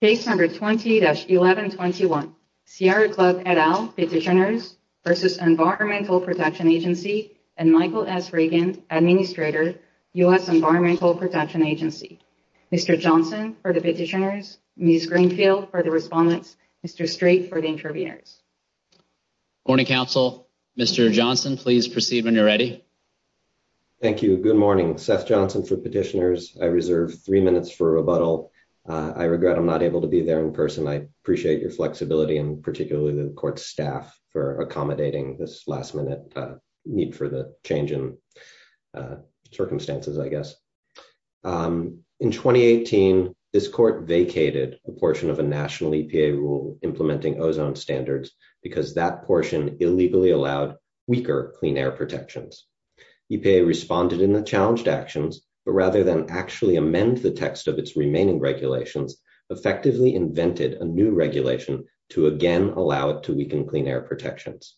Case number 20-1121, Sierra Club et al, petitioners versus Environmental Protection Agency and Michael S. Reagan, Administrator, U.S. Environmental Protection Agency. Mr. Johnson for the petitioners, Ms. Greenfield for the respondents, Mr. Strait for the interviewers. Morning, Council. Mr. Johnson, please proceed when you're ready. Thank you. Good morning. Seth Johnson for petitioners. I reserve three minutes for rebuttal. I regret I'm not able to be there in person. I appreciate your flexibility and particularly the Court's staff for accommodating this last-minute need for the change in circumstances, I guess. In 2018, this Court vacated a portion of a national EPA rule implementing ozone standards because that portion illegally allowed weaker clean air protections. EPA responded in the challenged actions, but rather than actually amend the text of its remaining regulations, effectively invented a new regulation to again allow it to weaken clean air protections.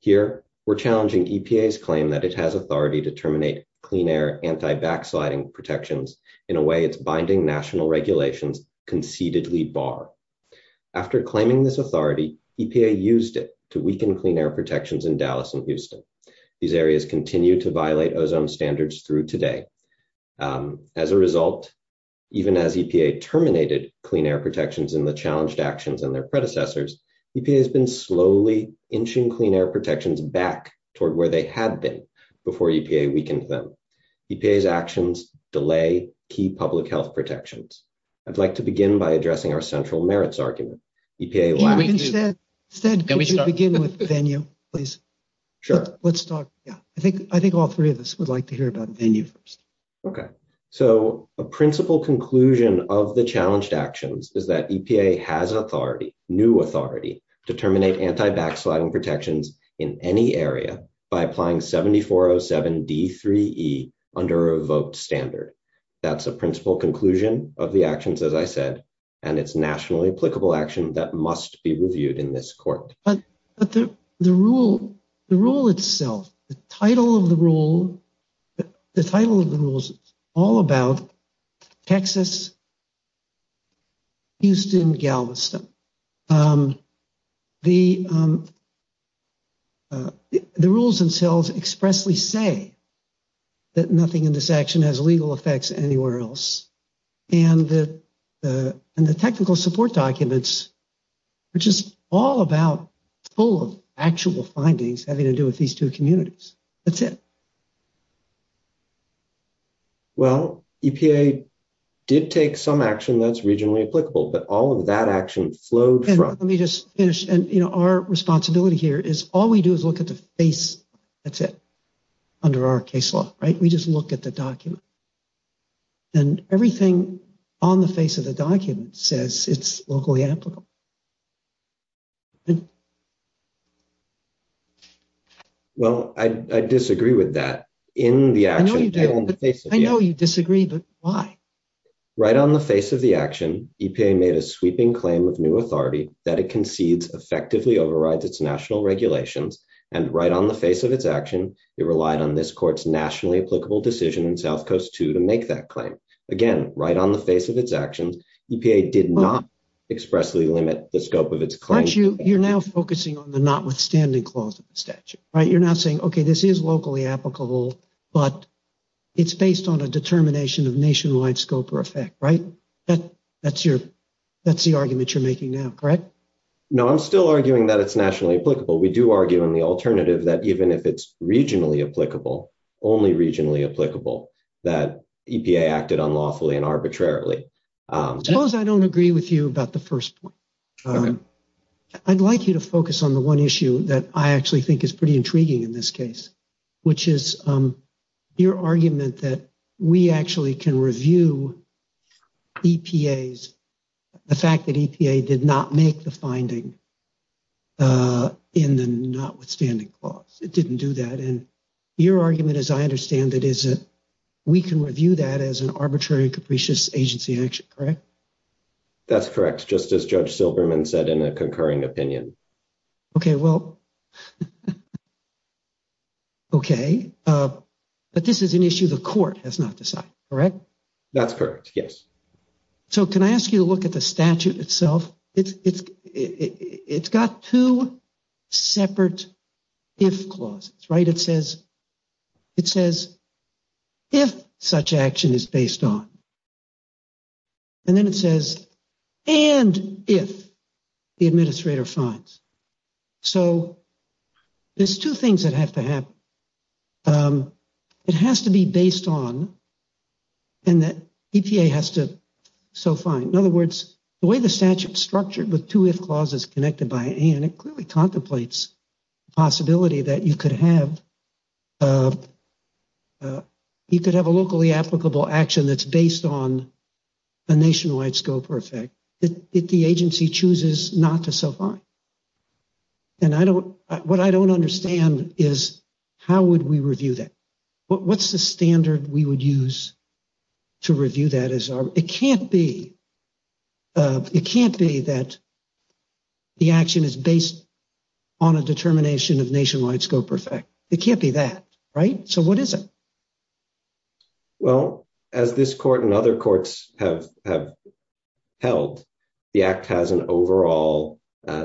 Here, we're challenging EPA's claim that it has authority to terminate clean air anti-backsliding protections in a way it's binding national regulations concededly bar. After claiming this authority, EPA used it to weaken clean air protections in Dallas and Houston. These areas continue to violate ozone standards through today. As a result, even as EPA terminated clean air protections in the challenged actions and their predecessors, EPA has been slowly inching clean air protections back toward where they had been before EPA weakened them. EPA's actions delay key public health protections. I'd like to begin by addressing our central merits argument. EPA- Instead, could we begin with Venya, please? Sure. Let's start. Yeah, I think all three of us would like to hear about Venya first. Okay. So a principal conclusion of the challenged actions is that EPA has authority, new authority, to terminate anti-backsliding protections in any area by applying 7407D3E under a vote standard. That's a principal conclusion of the actions, as I said, and it's nationally applicable action that must be reviewed in this court. But the rule itself, the title of the rule, the title of the rules is all about Texas, Houston, Galveston. The rules themselves expressly say that nothing in this action has legal effects anywhere else. And the technical support documents, which is all about full of actual findings having to do with these two communities. That's it. Well, EPA did take some action that's regionally applicable, but all of that action flowed from- Let me just finish. And, you know, our responsibility here is all we do is look at the face. That's it. Under our case law, right? We just look at the document. And everything on the face of the document says it's locally applicable. Well, I disagree with that. In the action- I know you do, but I know you disagree, but why? Right on the face of the action, EPA made a sweeping claim of new authority that it concedes effectively overrides its national regulations. And right on the face of its action, it relied on this court's nationally applicable decision in South Coast II to make that claim. Again, right on the face of its actions, EPA did not expressly limit the scope of its claim. You're now focusing on the notwithstanding clause of the statute, right? You're now saying, okay, this is locally applicable, but it's based on a determination of nationwide scope or effect, right? That's the argument you're making now, correct? No, I'm still arguing that it's nationally applicable. We do argue in the alternative that even if it's regionally applicable, only regionally applicable, that EPA acted unlawfully and arbitrarily. Suppose I don't agree with you about the first point. I'd like you to focus on the one issue that I actually think is pretty intriguing in this case, which is your argument that we actually can review EPA's, the fact that EPA did not make the finding in the notwithstanding clause. It didn't do that. And your argument, as I understand it, is that we can review that as an arbitrary and capricious agency action, correct? That's correct. Just as Judge Silberman said in a concurring opinion. Okay, well, okay. But this is an issue the court has not decided, correct? That's correct, yes. So can I ask you to look at the statute itself? It's got two separate if clauses, right? It says, if such action is based on, and then it says, and if the administrator finds. So there's two things that have to happen. It has to be based on, and that EPA has to so find. In other words, the way the statute's structured with two if clauses connected by and, it clearly contemplates the possibility that you could have a locally applicable action that's based on a nationwide scope or effect that the agency chooses not to so find. And what I don't understand is how would we review that? What's the standard we would use to review that? It can't be that the action is based on a determination of nationwide scope or effect. It can't be that, right? So what is it? Well, as this court and other courts have held, the act has an overall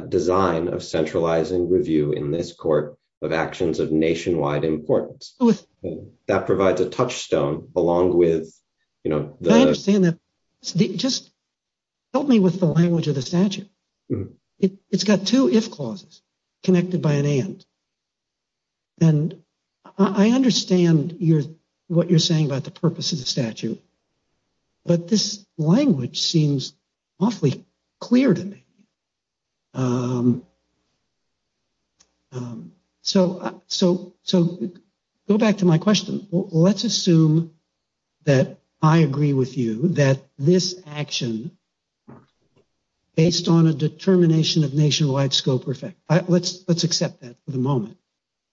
design of centralizing review in this court of actions of nationwide importance. That provides a touchstone along with, you know, the- I understand that. Just help me with the language of the statute. It's got two if clauses connected by an and. And I understand what you're saying about the purpose of the statute, but this language seems awfully clear to me. So go back to my question. Let's assume that I agree with you that this action based on a determination of nationwide scope or effect. Let's accept that for the moment.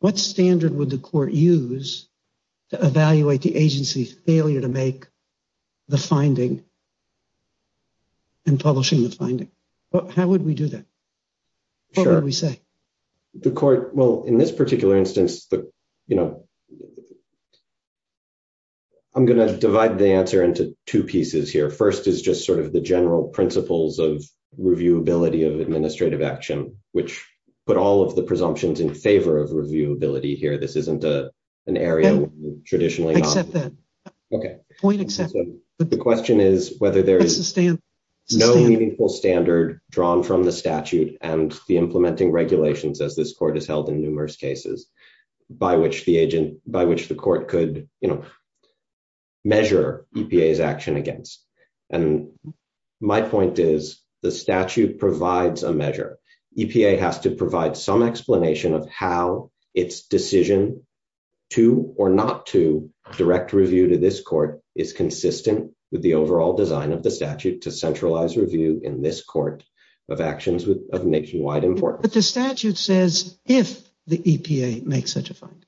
What standard would the court use to evaluate the agency's failure to make the finding and publishing the finding? How would we do that? What would we say? The court, well, in this particular instance, you know, I'm going to divide the answer into two pieces here. First is just sort of the general principles of reviewability of administrative action, which put all of the presumptions in favor of reviewability here. This isn't an area traditionally- I accept that. Okay. Point accepted. The question is whether there is no meaningful standard drawn from the statute and the implementing regulations as this court has held in numerous cases by which the agent- by which the court could measure EPA's action against. And my point is the statute provides a measure. EPA has to provide some explanation of how its decision to or not to direct review to this court is consistent with the overall design of the statute to centralize review in this court of actions of nationwide importance. But the statute says, if the EPA makes such a find.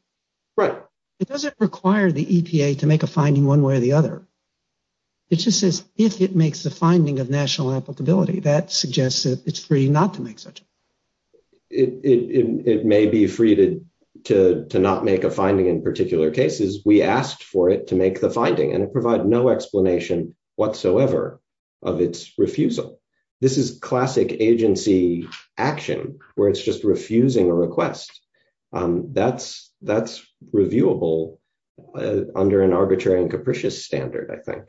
Right. It doesn't require the EPA to make a finding one way or the other. It just says, if it makes the finding of national applicability, that suggests that it's free not to make such a- It may be free to not make a finding in particular cases. We asked for it to make the finding and it provided no explanation whatsoever of its refusal. This is classic agency action where it's just refusing a request. That's reviewable under an arbitrary and capricious standard, I think.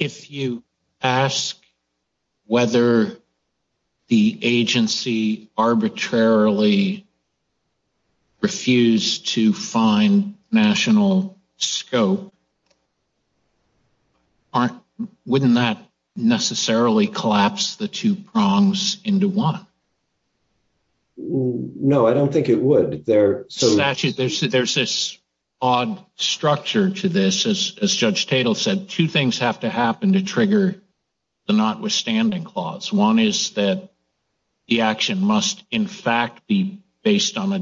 If you ask whether the agency arbitrarily refused to find national scope, wouldn't that necessarily collapse the two prongs into one? No, I don't think it would. There are some- Statute, there's this odd structure to this. As Judge Tatel said, two things have to happen to trigger the notwithstanding clause. One is that the action must in fact be based And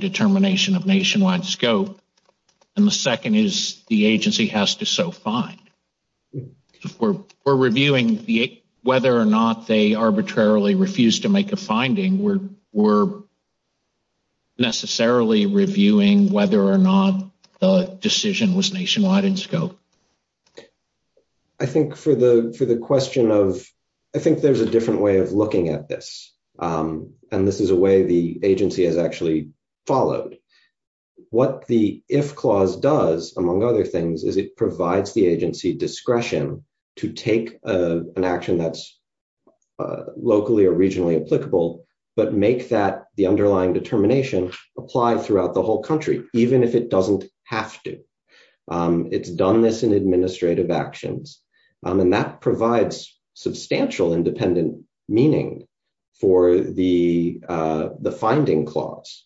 the second is the agency has the power to force us to so find. We're reviewing whether or not they arbitrarily refused to make a finding. We're necessarily reviewing whether or not the decision was nationwide in scope. I think for the question of- I think there's a different way of looking at this. And this is a way the agency has actually followed. What the if clause does, among other things, is it provides the agency discretion to take an action that's locally or regionally applicable, but make that the underlying determination apply throughout the whole country, even if it doesn't have to. It's done this in administrative actions. And that provides substantial independent meaning for the finding clause.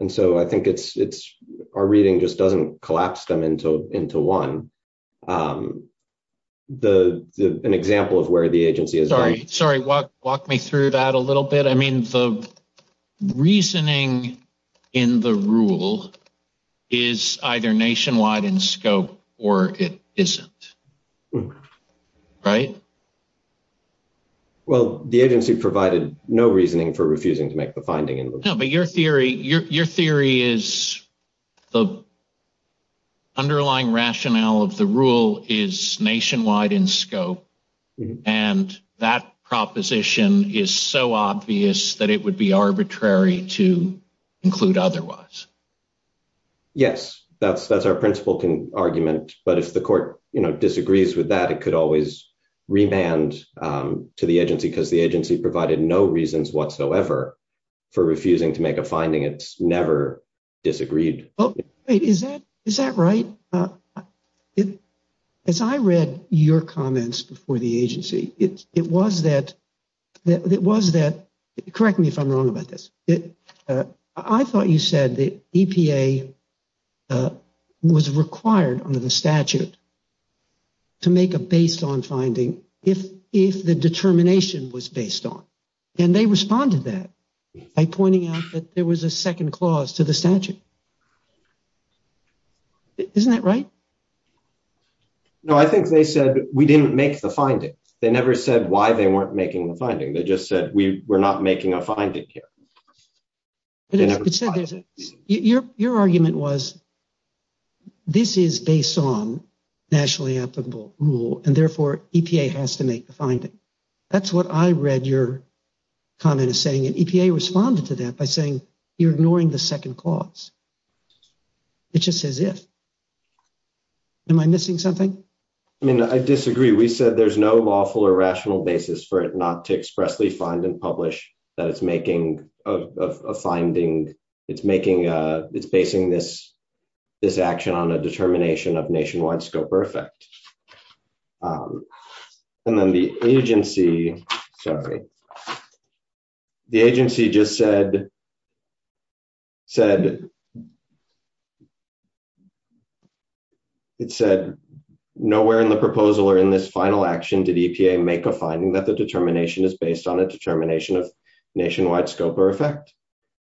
And so I think it's, our reading just doesn't collapse them into one. The example of where the agency is- Sorry, walk me through that a little bit. I mean, the reasoning in the rule is either nationwide in scope or it isn't, right? for refusing to make the finding. No, but your theory is the underlying rationale of the rule is nationwide in scope. And that proposition is so obvious that it would be arbitrary to include otherwise. Yes, that's our principle argument. But if the court disagrees with that, it could always remand to the agency provided no reasons whatsoever for refusing to make a finding. It's never disagreed. Oh, wait, is that right? As I read your comments before the agency, it was that, correct me if I'm wrong about this. I thought you said that EPA was required under the statute to make a based on finding if the determination was based on. And they responded to that by pointing out that there was a second clause to the statute. Isn't that right? No, I think they said, we didn't make the finding. They never said why they weren't making the finding. They just said, we're not making a finding here. But your argument was this is based on nationally applicable rule and therefore EPA has to make the finding. That's what I read your comment is saying. And EPA responded to that by saying, you're ignoring the second clause. It's just as if. Am I missing something? I mean, I disagree. We said there's no lawful or rational basis for it not to expressly find and publish that it's making a finding. It's making, it's basing this action on a determination of nationwide scope or effect. And then the agency, sorry. The agency just said, it said nowhere in the proposal or in this final action did EPA make a finding that the determination is based on a determination of nationwide scope or effect.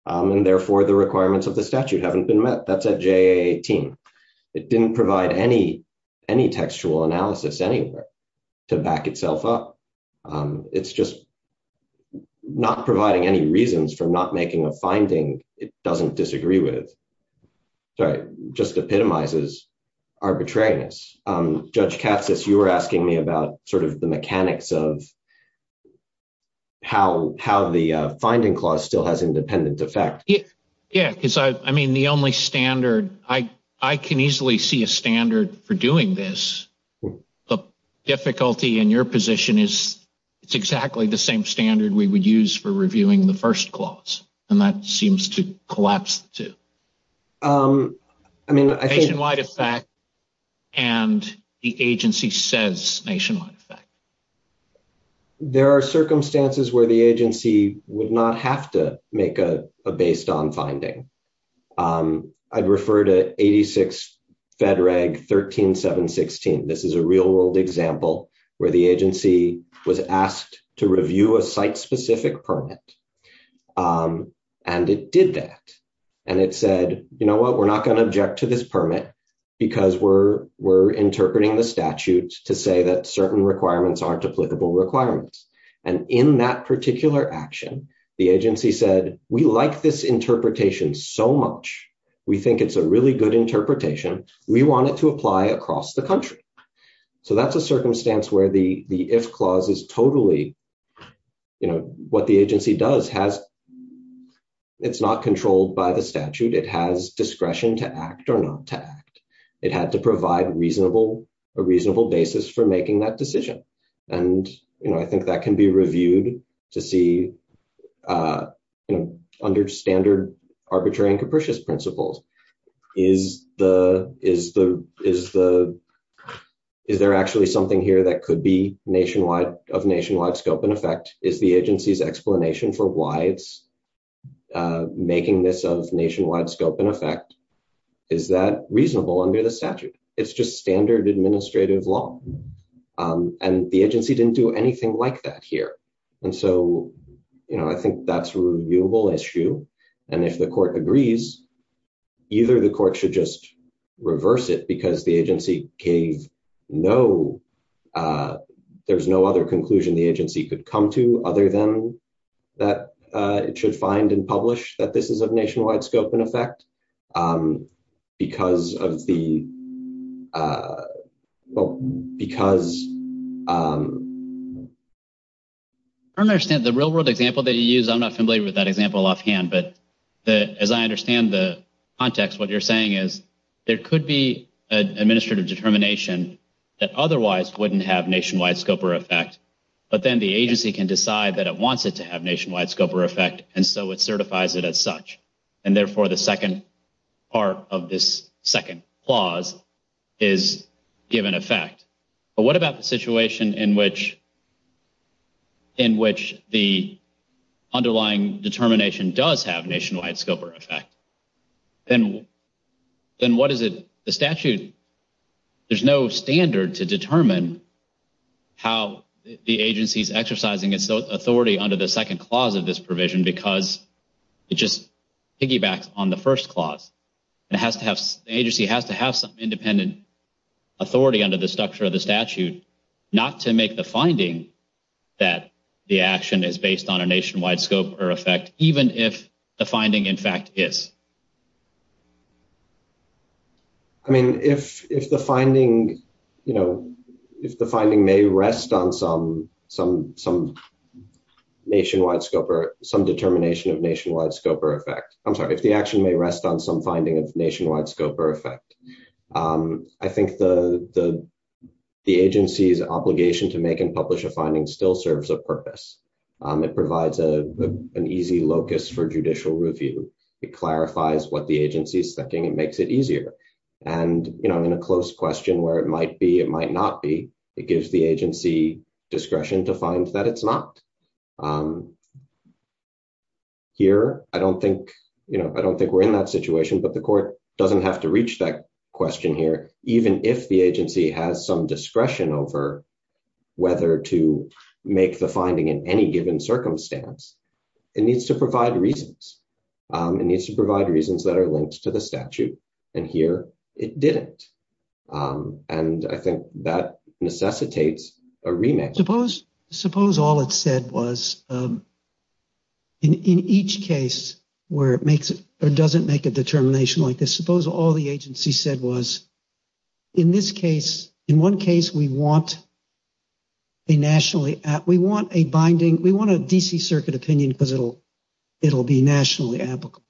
And therefore the requirements of the statute haven't been met. That's at JA 18. It didn't provide any textual analysis anywhere to back itself up. It's just not providing any reasons for not making a finding it doesn't disagree with. Sorry, just epitomizes arbitrariness. Judge Katsas, you were asking me about sort of the mechanics of how the finding clause still has independent effect. Yeah, because I mean, the only standard, I can easily see a standard for doing this. The difficulty in your position is it's exactly the same standard we would use for reviewing the first clause. And that seems to collapse too. I mean, nationwide effect and the agency says nationwide effect. There are circumstances where the agency would not have to make a based on finding. I'd refer to 86 Fed Reg 13716. This is a real world example where the agency was asked to review a site specific permit. And it did that. And it said, you know what? We're not gonna object to this permit because we're interpreting the statute to say that certain requirements aren't applicable requirements. And in that particular action, the agency said, we like this interpretation so much. We think it's a really good interpretation. We want it to apply across the country. So that's a circumstance where the if clause is totally, you know, what the agency does has, it's not controlled by the statute. It has discretion to act or not to act. It had to provide a reasonable basis for making that decision. And, you know, I think that can be reviewed to see, under standard arbitrary and capricious principles. Is there actually something here that could be nationwide of nationwide scope and effect? Is the agency's explanation for why it's making this of nationwide scope and effect? Is that reasonable under the statute? It's just standard administrative law. And the agency didn't do anything like that here. And so, you know, I think that's a reviewable issue. And if the court agrees, either the court should just reverse it because the agency gave no, there's no other conclusion the agency could come to other than that it should find and publish that this is of nationwide scope and effect because of the, because. I don't understand the real world example that you use. I'm not familiar with that example offhand, but as I understand the context, what you're saying is there could be an administrative determination that otherwise wouldn't have nationwide scope or effect, but then the agency can decide that it wants it to have nationwide scope or effect. And so it certifies it as such. And therefore the second part of this second clause is given effect. But what about the situation in which, in which the underlying determination does have nationwide scope or effect? Then what is it, the statute, there's no standard to determine how the agency's exercising its authority under the second clause of this provision because it just piggybacks on the first clause and it has to have, the agency has to have some independent authority under the structure of the statute, not to make the finding that the action is based on a nationwide scope or effect, even if the finding in fact is. I mean, if the finding, if the finding may rest on some nationwide scope or some determination of nationwide scope or effect, I'm sorry, if the action may rest on some finding of nationwide scope or effect, I think the agency's obligation to make and publish a finding still serves a purpose. It provides an easy locus for judicial review. It clarifies what the agency is thinking. It makes it easier. And in a close question where it might be, it might not be, it gives the agency discretion to find that it's not. Here, I don't think we're in that situation, but the court doesn't have to reach that question here, even if the agency has some discretion over whether to make the finding in any given circumstance, it needs to provide reasons. It needs to provide reasons that are linked to the statute and here it didn't. And I think that necessitates a remake. Suppose all it said was in each case where it makes or doesn't make a determination like this, suppose all the agency said was in this case, in one case, we want a nationally, we want a binding, we want a DC circuit opinion because it'll be nationally applicable.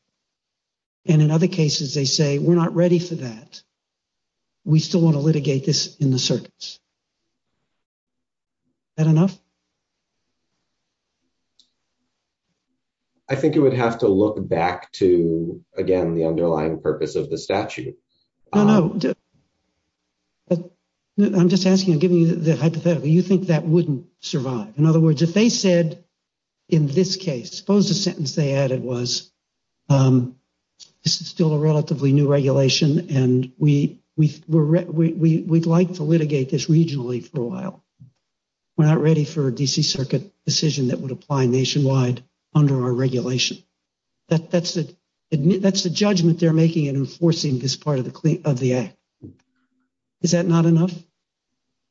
And in other cases, they say, we're not ready for that. We still want to litigate this in the circuits. Is that enough? I think it would have to look back to, again, the underlying purpose of the statute. No, no. I'm just asking, I'm giving you the hypothetical. You think that wouldn't survive? In other words, if they said in this case, suppose the sentence they added was, this is still a relatively new regulation and we'd like to litigate this regionally for a while. We're not ready for a DC circuit decision that would apply nationwide under our regulation. That's the judgment they're making in enforcing this part of the act. Is that not enough?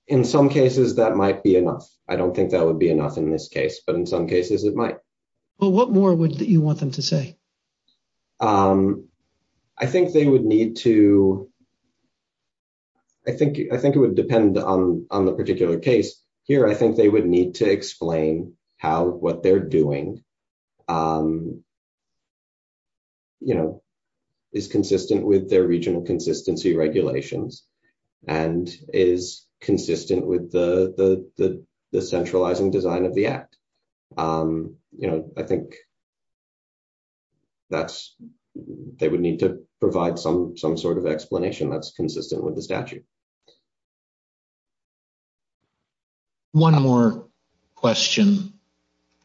In some cases, that might be enough. I don't think that would be enough in this case, but in some cases it might. Well, what more would you want them to say? I think they would need to, I think it would depend on the particular case. Here, I think they would need to explain how what they're doing is consistent with their regional consistency regulations and is consistent with the centralizing design of the act. I think they would need to provide some sort of explanation that's consistent with the statute. One more question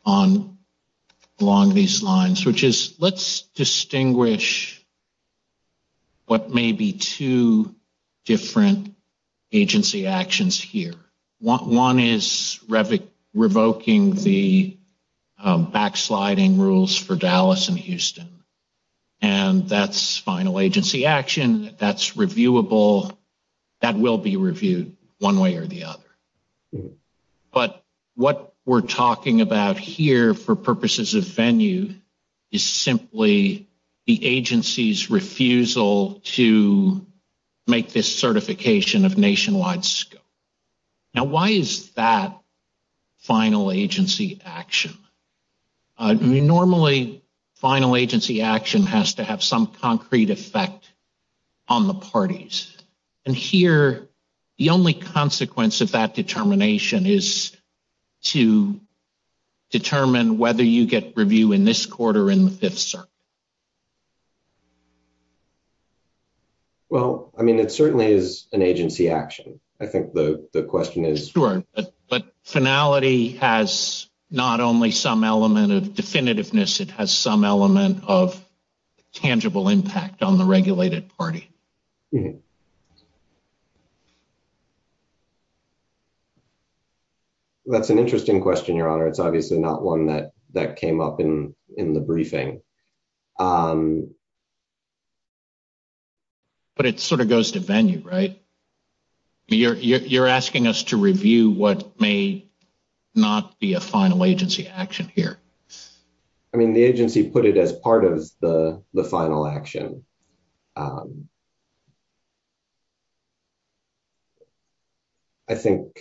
along these lines, which is, let's distinguish what may be two different agency actions here. One is revoking the backsliding rules for Dallas and Houston. And that's final agency action. That's reviewable. That will be reviewed one way or the other. But what we're talking about here for purposes of venue is simply the agency's refusal to make this certification of nationwide scope. Now, why is that final agency action? I mean, normally final agency action has to have some concrete effect on the parties. And here, the only consequence of that determination is to determine whether you get review in this court or in the Fifth Circuit. Well, I mean, it certainly is an agency action. I think the question is- Definitiveness, it has some element of tangible impact on the regulated party. That's an interesting question, Your Honor. It's obviously not one that came up in the briefing. But it sort of goes to venue, right? You're asking us to review what may not be a final agency action here. I mean, the agency put it as part of the final action. I think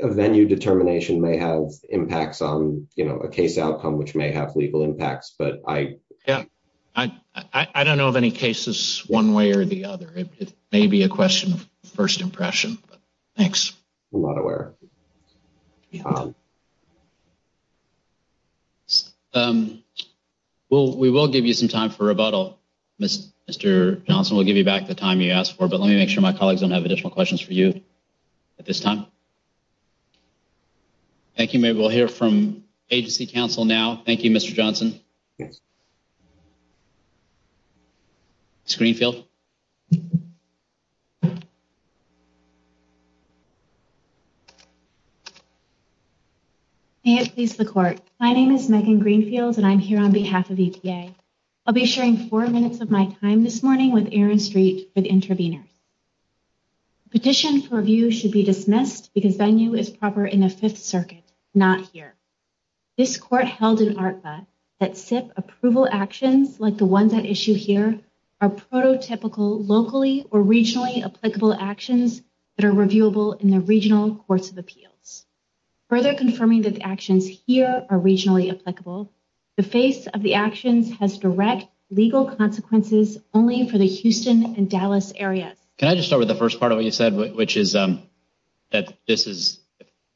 a venue determination may have impacts on, you know, a case outcome which may have legal impacts, but I- Yeah, I don't know of any cases one way or the other. It may be a question of first impression. Thanks. I'm not aware. Well, we will give you some time for rebuttal, Mr. Johnson. We'll give you back the time you asked for, but let me make sure my colleagues don't have additional questions for you at this time. Thank you. Maybe we'll hear from agency counsel now. Thank you, Mr. Johnson. Ms. Greenfield. May it please the court. My name is Megan Greenfield, and I'm here on behalf of EPA. I'll be sharing four minutes of my time this morning with Aaron Street for the intervenors. Petition for review should be dismissed because venue is proper in the Fifth Circuit, not here. This court held in ARPA that the venue that SIP approval actions like the ones at issue here are prototypical locally or regionally applicable actions that are reviewable in the regional courts of appeals. Further confirming that the actions here are regionally applicable, the face of the actions has direct legal consequences only for the Houston and Dallas areas. Can I just start with the first part of what you said, which is that this is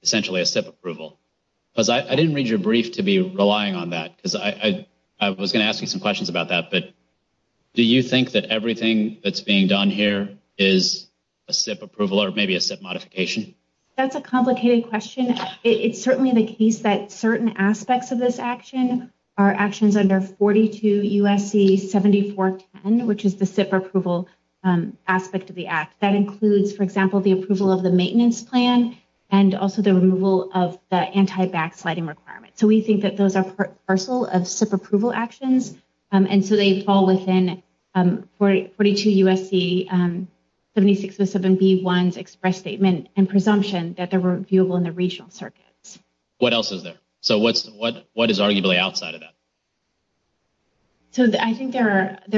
essentially a SIP approval? Because I didn't read your brief to be relying on that because I was gonna ask you some questions about that, but do you think that everything that's being done here is a SIP approval or maybe a SIP modification? That's a complicated question. It's certainly the case that certain aspects of this action are actions under 42 USC 7410, which is the SIP approval aspect of the act. That includes, for example, the approval of the maintenance plan and also the removal of the anti-backsliding requirements. So we think that those are partial of SIP approval actions. And so they fall within 42 USC 7607B1's express statement and presumption that they're reviewable in the regional circuits. What else is there? So what is arguably outside of that? So I think there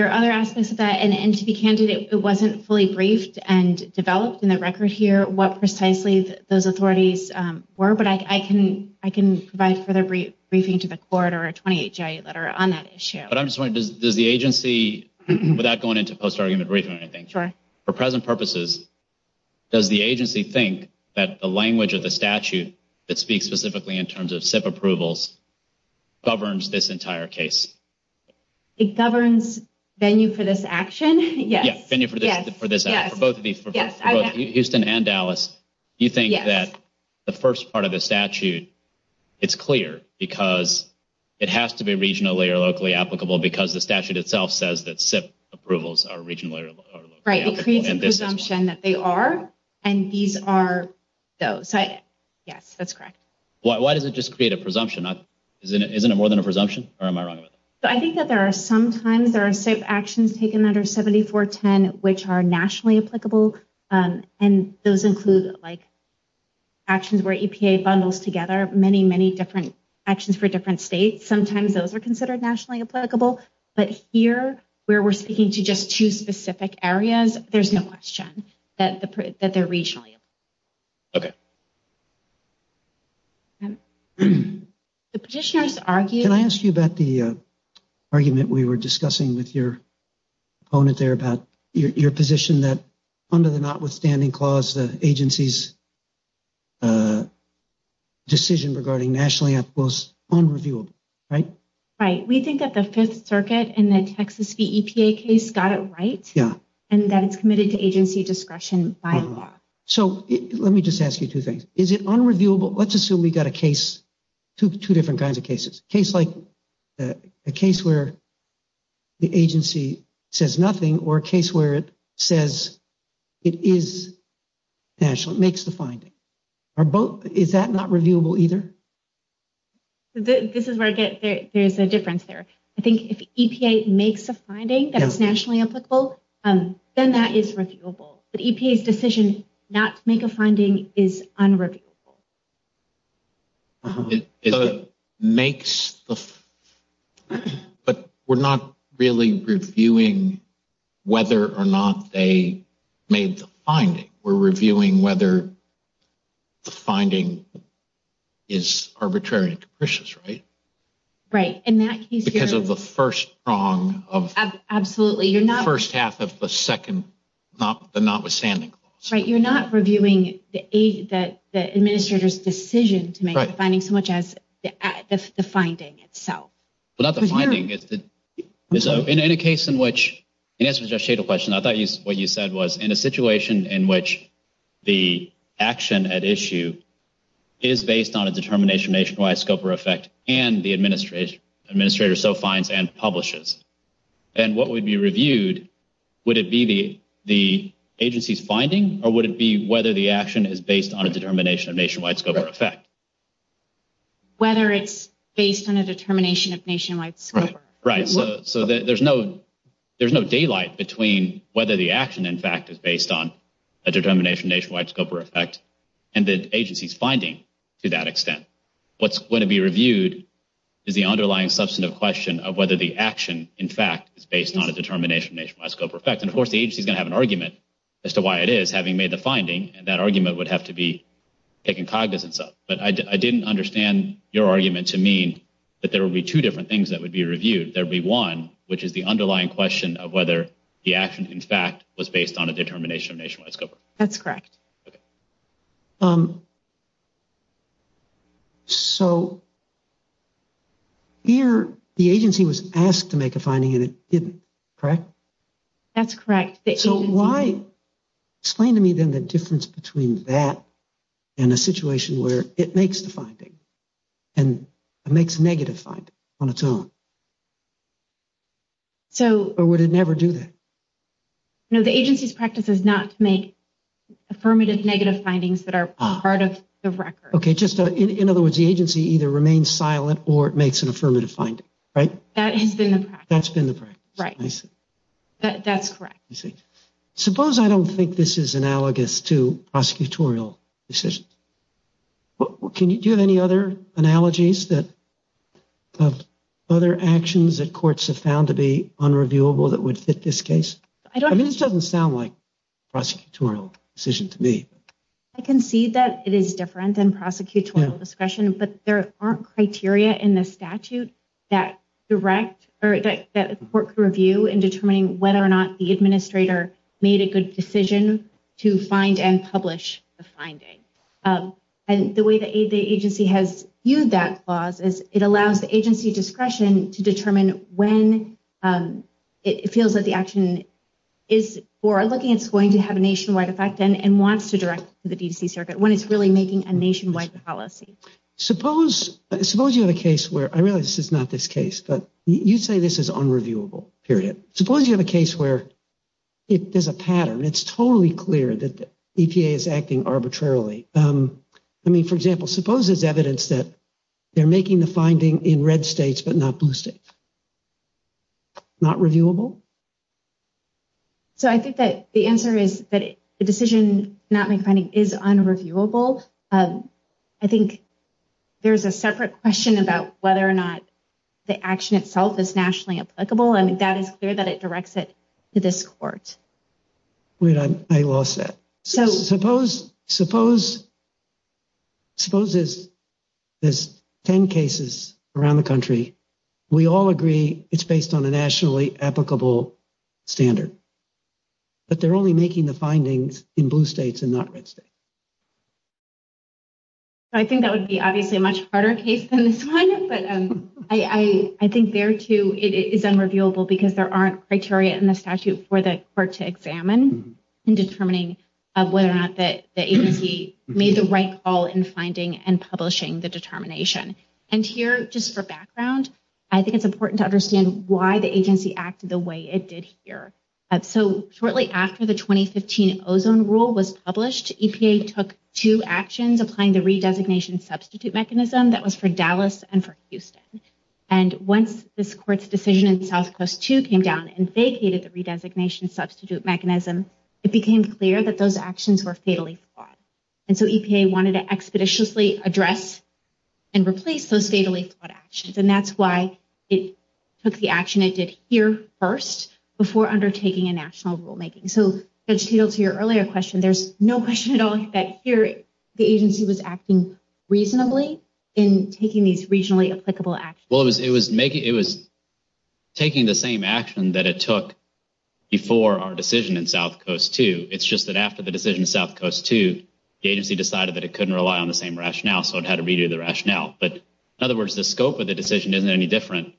are other aspects of that. And to be candid, it wasn't fully briefed and developed in the record here what precisely those authorities were, but I can provide further briefing to the court or a 28-J letter on that issue. But I'm just wondering, does the agency, without going into post-argument briefing or anything, for present purposes, does the agency think that the language of the statute that speaks specifically in terms of SIP approvals governs this entire case? It governs venue for this action? Yes. Yeah, venue for this action. For both of these, for both Houston and Dallas, you think that the first part of the statute, it's clear because it has to be regionally or locally applicable because the statute itself says that SIP approvals are regionally or locally applicable. Right, it creates a presumption that they are, and these are those. Yes, that's correct. Why does it just create a presumption? Isn't it more than a presumption, or am I wrong about that? I think that there are some times there are SIP actions taken under 7410 which are nationally applicable, and those include actions where EPA bundles together many, many different actions for different states. Sometimes those are considered nationally applicable, but here, where we're speaking to just two specific areas, there's no question that they're regionally applicable. Okay. The petitioners argue- Can I ask you about the argument we were discussing with your opponent there about your position that under the notwithstanding clause, the agency's decision regarding nationally applicable is unreviewable, right? Right, we think that the Fifth Circuit and the Texas v. EPA case got it right, and that it's committed to agency discretion by law. So let me just ask you two things. Is it unreviewable? Let's assume we got a case, two different kinds of cases, case like a case where the agency says nothing, or a case where it says it is national, it makes the finding. Are both, is that not reviewable either? This is where I get, there's a difference there. I think if EPA makes a finding that's nationally applicable, then that is reviewable. But EPA's decision not to make a finding is unreviewable. It makes the, but we're not really reviewing whether or not they made the finding. We're reviewing whether the finding is arbitrary and capricious, right? Right, in that case you're- Because of the first prong of- Absolutely, you're not- First half of the second, the notwithstanding clause. Right, you're not reviewing the administrator's decision to make the finding so much as the finding itself. Well, not the finding, it's the, so in a case in which, in answer to your question, I thought what you said was in a situation in which the action at issue is based on a determination nationwide scope or effect, and the administrator so finds and publishes. And what would be reviewed, would it be the agency's finding, or would it be whether the action is based on a determination of nationwide scope or effect? Whether it's based on a determination of nationwide scope or effect. Right, so there's no daylight between whether the action, in fact, is based on a determination nationwide scope or effect, and the agency's finding to that extent. What's going to be reviewed is the underlying substantive question of whether the action, in fact, is based on a determination nationwide scope or effect. And of course, the agency's going to have an argument as to why it is, having made the finding, and that argument would have to be taken cognizance of. But I didn't understand your argument to mean that there would be two different things that would be reviewed. There'd be one, which is the underlying question of whether the action, in fact, was based on a determination of nationwide scope or effect. That's correct. So here, the agency was asked to make a finding, and it didn't, correct? That's correct. So why, explain to me then the difference between that and a situation where it makes the finding, and it makes a negative finding on its own? So- Or would it never do that? No, the agency's practice is not to make affirmative negative findings that are part of the record. Okay, just in other words, the agency either remains silent or it makes an affirmative finding, right? That has been the practice. That's been the practice. Right. I see. That's correct. I see. Suppose I don't think this is analogous to prosecutorial decisions. Do you have any other analogies of other actions that courts have found to be unreviewable that would fit this case? I don't- I mean, this doesn't sound like prosecutorial decision to me. I can see that it is different than prosecutorial discretion, but there aren't criteria in the statute that direct, or that a court could review in determining whether or not the administrator made a good decision to find and publish the finding. And the way the agency has viewed that clause is it allows the agency discretion to determine when it feels that the action is, or looking it's going to have a nationwide effect and wants to direct to the DTC Circuit when it's really making a nationwide policy. Suppose you have a case where, I realize this is not this case, but you'd say this is unreviewable, period. Suppose you have a case where there's a pattern, and it's totally clear that the EPA is acting arbitrarily. I mean, for example, suppose there's evidence that they're making the finding in red states, but not blue states. Not reviewable? So I think that the answer is that the decision not made finding is unreviewable. I think there's a separate question about whether or not the action itself is nationally applicable. I mean, that is clear that it directs it to this court. Wait, I lost that. So suppose there's 10 cases around the country. We all agree it's based on a nationally applicable standard, but they're only making the findings in blue states and not red states. I think that would be obviously a much harder case than this one, but I think there too, it is unreviewable because there aren't criteria in the statute for the court to examine in determining whether or not the agency made the right call in finding and publishing the determination. And here, just for background, I think it's important to understand why the agency acted the way it did here. So shortly after the 2015 ozone rule was published, EPA took two actions, applying the redesignation substitute mechanism that was for Dallas and for Houston. And once this court's decision in South Coast II came down and vacated the redesignation substitute mechanism, it became clear that those actions were fatally flawed. And so EPA wanted to expeditiously address and replace those fatally flawed actions. And that's why it took the action it did here first before undertaking a national rulemaking. So to your earlier question, there's no question at all that here, the agency was acting reasonably in taking these regionally applicable actions. Well, it was taking the same action that it took before our decision in South Coast II. It's just that after the decision in South Coast II, the agency decided that it couldn't rely on the same rationale, so it had to redo the rationale. But in other words, the scope of the decision isn't any different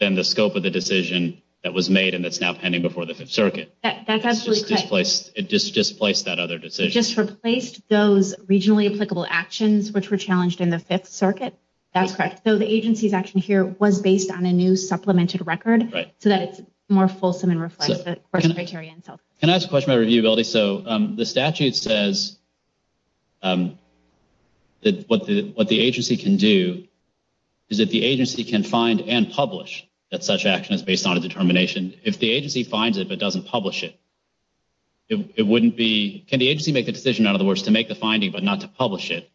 than the scope of the decision that was made and that's now pending before the Fifth Circuit. That's absolutely correct. It just displaced that other decision. Just replaced those regionally applicable actions which were challenged in the Fifth Circuit? That's correct. So the agency's action here was based on a new supplemented record so that it's more fulsome and reflects the criteria in South Coast II. Can I ask a question about reviewability? So the statute says that what the agency can do is that the agency can find and publish that such action is based on a determination. If the agency finds it, but doesn't publish it, it wouldn't be... Can the agency make the decision, in other words, to make the finding, but not to publish it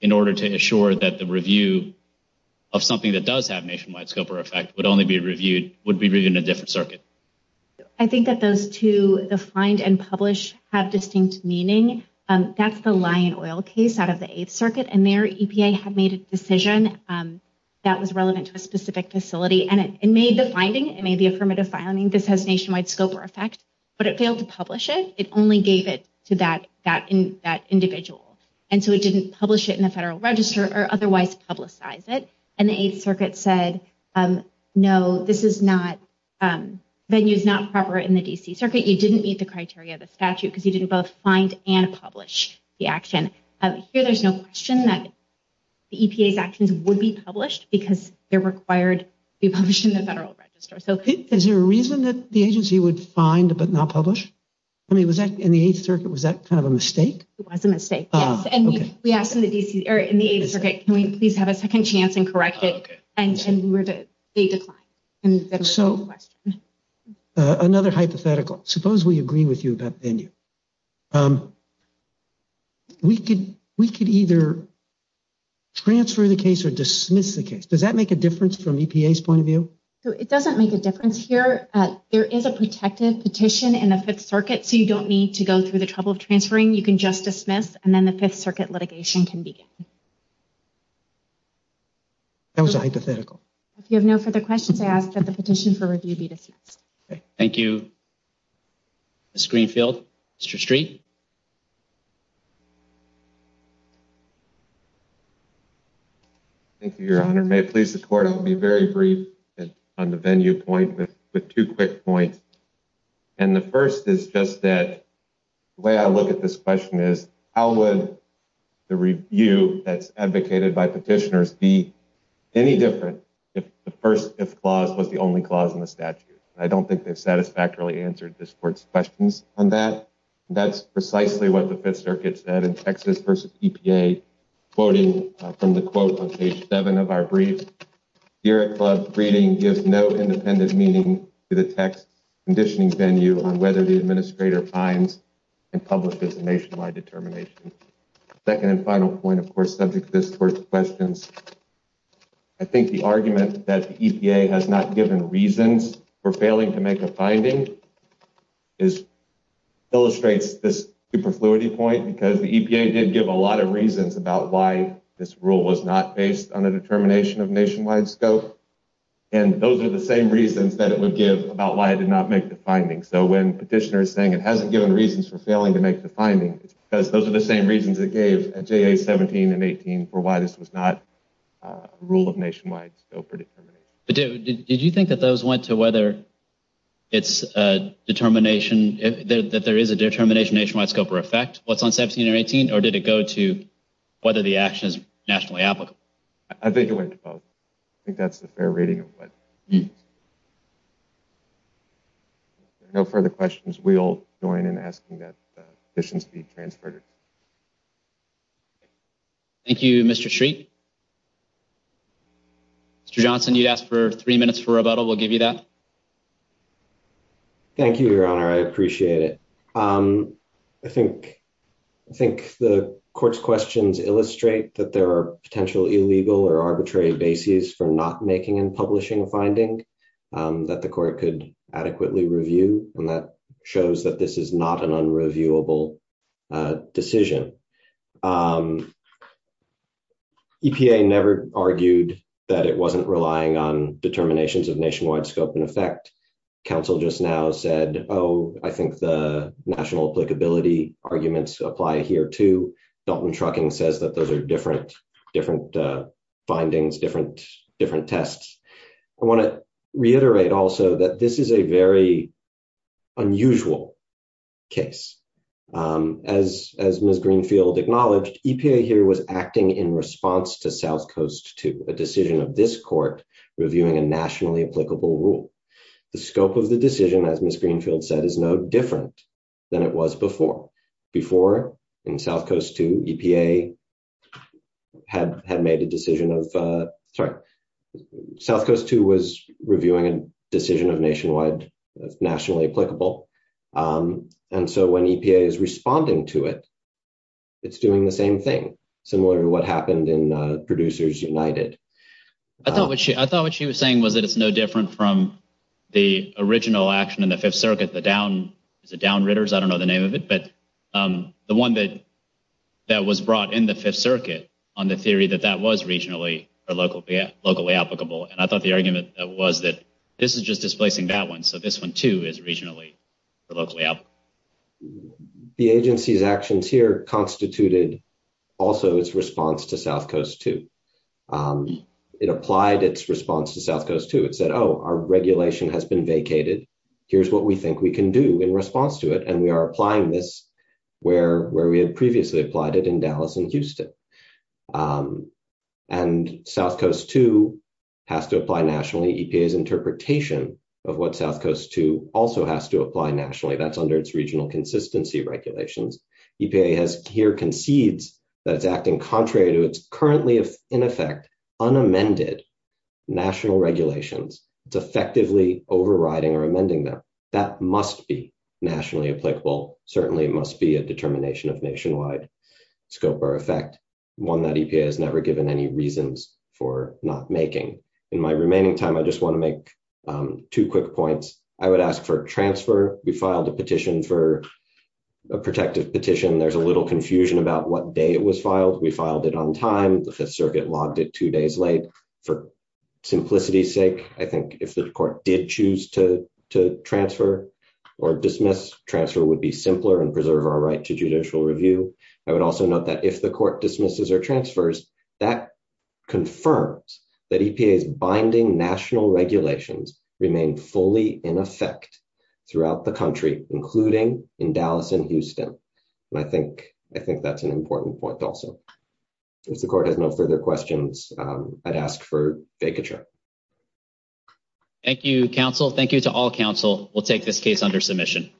in order to assure that the review of something that does have nationwide scope or effect would only be reviewed, would be reviewed in a different circuit? I think that those two, the find and publish, have distinct meaning. That's the Lion Oil case out of the Eighth Circuit and their EPA had made a decision that was relevant to a specific facility and it made the finding, it made the affirmative finding, this has nationwide scope or effect, but it failed to publish it. It only gave it to that individual. And so it didn't publish it in the federal register or otherwise publicize it. And the Eighth Circuit said, no, this is not, venue's not proper in the D.C. Circuit. You didn't meet the criteria of the statute because you didn't both find and publish the action. Here, there's no question that the EPA's actions would be published because they're required to be published in the federal register. So- Is there a reason that the agency would find, but not publish? I mean, was that in the Eighth Circuit, was that kind of a mistake? It was a mistake, yes. And we asked in the Eighth Circuit, can we please have a second chance and correct it? And they declined. And that was the question. Another hypothetical. Suppose we agree with you about venue. We could either transfer the case or dismiss the case. Does that make a difference from EPA's point of view? So it doesn't make a difference here. There is a protected petition in the Fifth Circuit. So you don't need to go through the trouble of transferring. You can just dismiss and then the Fifth Circuit litigation can begin. That was a hypothetical. If you have no further questions, I ask that the petition for review be dismissed. Thank you, Ms. Greenfield. Mr. Street. Thank you, Your Honor. May it please the Court, I'll be very brief on the venue point with two quick points. And the first is just that the way I look at this question is, how would the review that's advocated by petitioners be any different if the first if clause was the only clause in the statute? I don't think they've satisfactorily answered this Court's questions on that. That's precisely what the Fifth Circuit said in Texas versus EPA, quoting from the quote on page seven of our brief. Here at club, reading gives no independent meaning to the text conditioning venue on whether the administrator finds and publishes a nationwide determination. Second and final point, of course, subject to this Court's questions. I think the argument that the EPA has not given reasons for failing to make a finding illustrates this superfluity point because the EPA did give a lot of reasons about why this rule was not based on a determination of nationwide scope. And those are the same reasons that it would give about why it did not make the findings. So when petitioners saying it hasn't given reasons for failing to make the finding, because those are the same reasons it gave at JA 17 and 18 for why this was not rule of nationwide scope or determination. But did you think that those went to whether it's a determination, that there is a determination nationwide scope or effect, what's on 17 or 18, or did it go to whether the action is nationally applicable? I think it went to both. I think that's the fair rating of what. No further questions. We'll join in asking that the petitions be transferred. Thank you, Mr. Shriek. Mr. Johnson, you'd ask for three minutes for rebuttal. We'll give you that. Thank you, Your Honor. I appreciate it. I think the Court's questions illustrate that there are potential illegal or arbitrary bases for not making and publishing a finding that the Court could adequately review. And that shows that this is not an unreviewable decision. EPA never argued that it wasn't relying on determinations of nationwide scope and effect. Council just now said, oh, I think the national applicability arguments apply here too. Dalton Trucking says that those are different findings, different tests. I want to reiterate also that this is a very unusual case. As Ms. Greenfield acknowledged, EPA here was acting in response to South Coast II, a decision of this Court reviewing a nationally applicable rule. The scope of the decision, as Ms. Greenfield said, is no different than it was before. Before, in South Coast II, EPA had made a decision of, sorry, South Coast II was reviewing a decision of nationwide, nationally applicable. And so when EPA is responding to it, it's doing the same thing, similar to what happened in Producers United. I thought what she was saying was that it's no different from the original action in the Fifth Circuit, the Down, is it Downridders? I don't know the name of it, but the one that was brought in the Fifth Circuit on the theory that that was regionally, or locally applicable. And I thought the argument that was that this is just displacing that one. So this one too is regionally or locally applicable. The agency's actions here constituted also its response to South Coast II. It applied its response to South Coast II. It said, oh, our regulation has been vacated. Here's what we think we can do in response to it. And we are applying this where we had previously applied it in Dallas and Houston. And South Coast II has to apply nationally. EPA's interpretation of what South Coast II also has to apply nationally. That's under its regional consistency regulations. EPA has here concedes that it's acting contrary to its currently, if in effect, unamended national regulations. It's effectively overriding or amending them. That must be nationally applicable. Certainly it must be a determination of nationwide scope or effect. One that EPA has never given any reasons for not making. In my remaining time, I just wanna make two quick points. I would ask for transfer. We filed a petition for a protective petition. There's a little confusion about what day it was filed. We filed it on time. The Fifth Circuit logged it two days late. For simplicity's sake, I think if the court did choose to transfer or dismiss, transfer would be simpler and preserve our right to judicial review. I would also note that if the court dismisses or transfers, that confirms that EPA's binding national regulations remain fully in effect throughout the country, including in Dallas and Houston. And I think that's an important point also. If the court has no further questions, I'd ask for vacature. Thank you, counsel. Thank you to all counsel. We'll take this case under submission.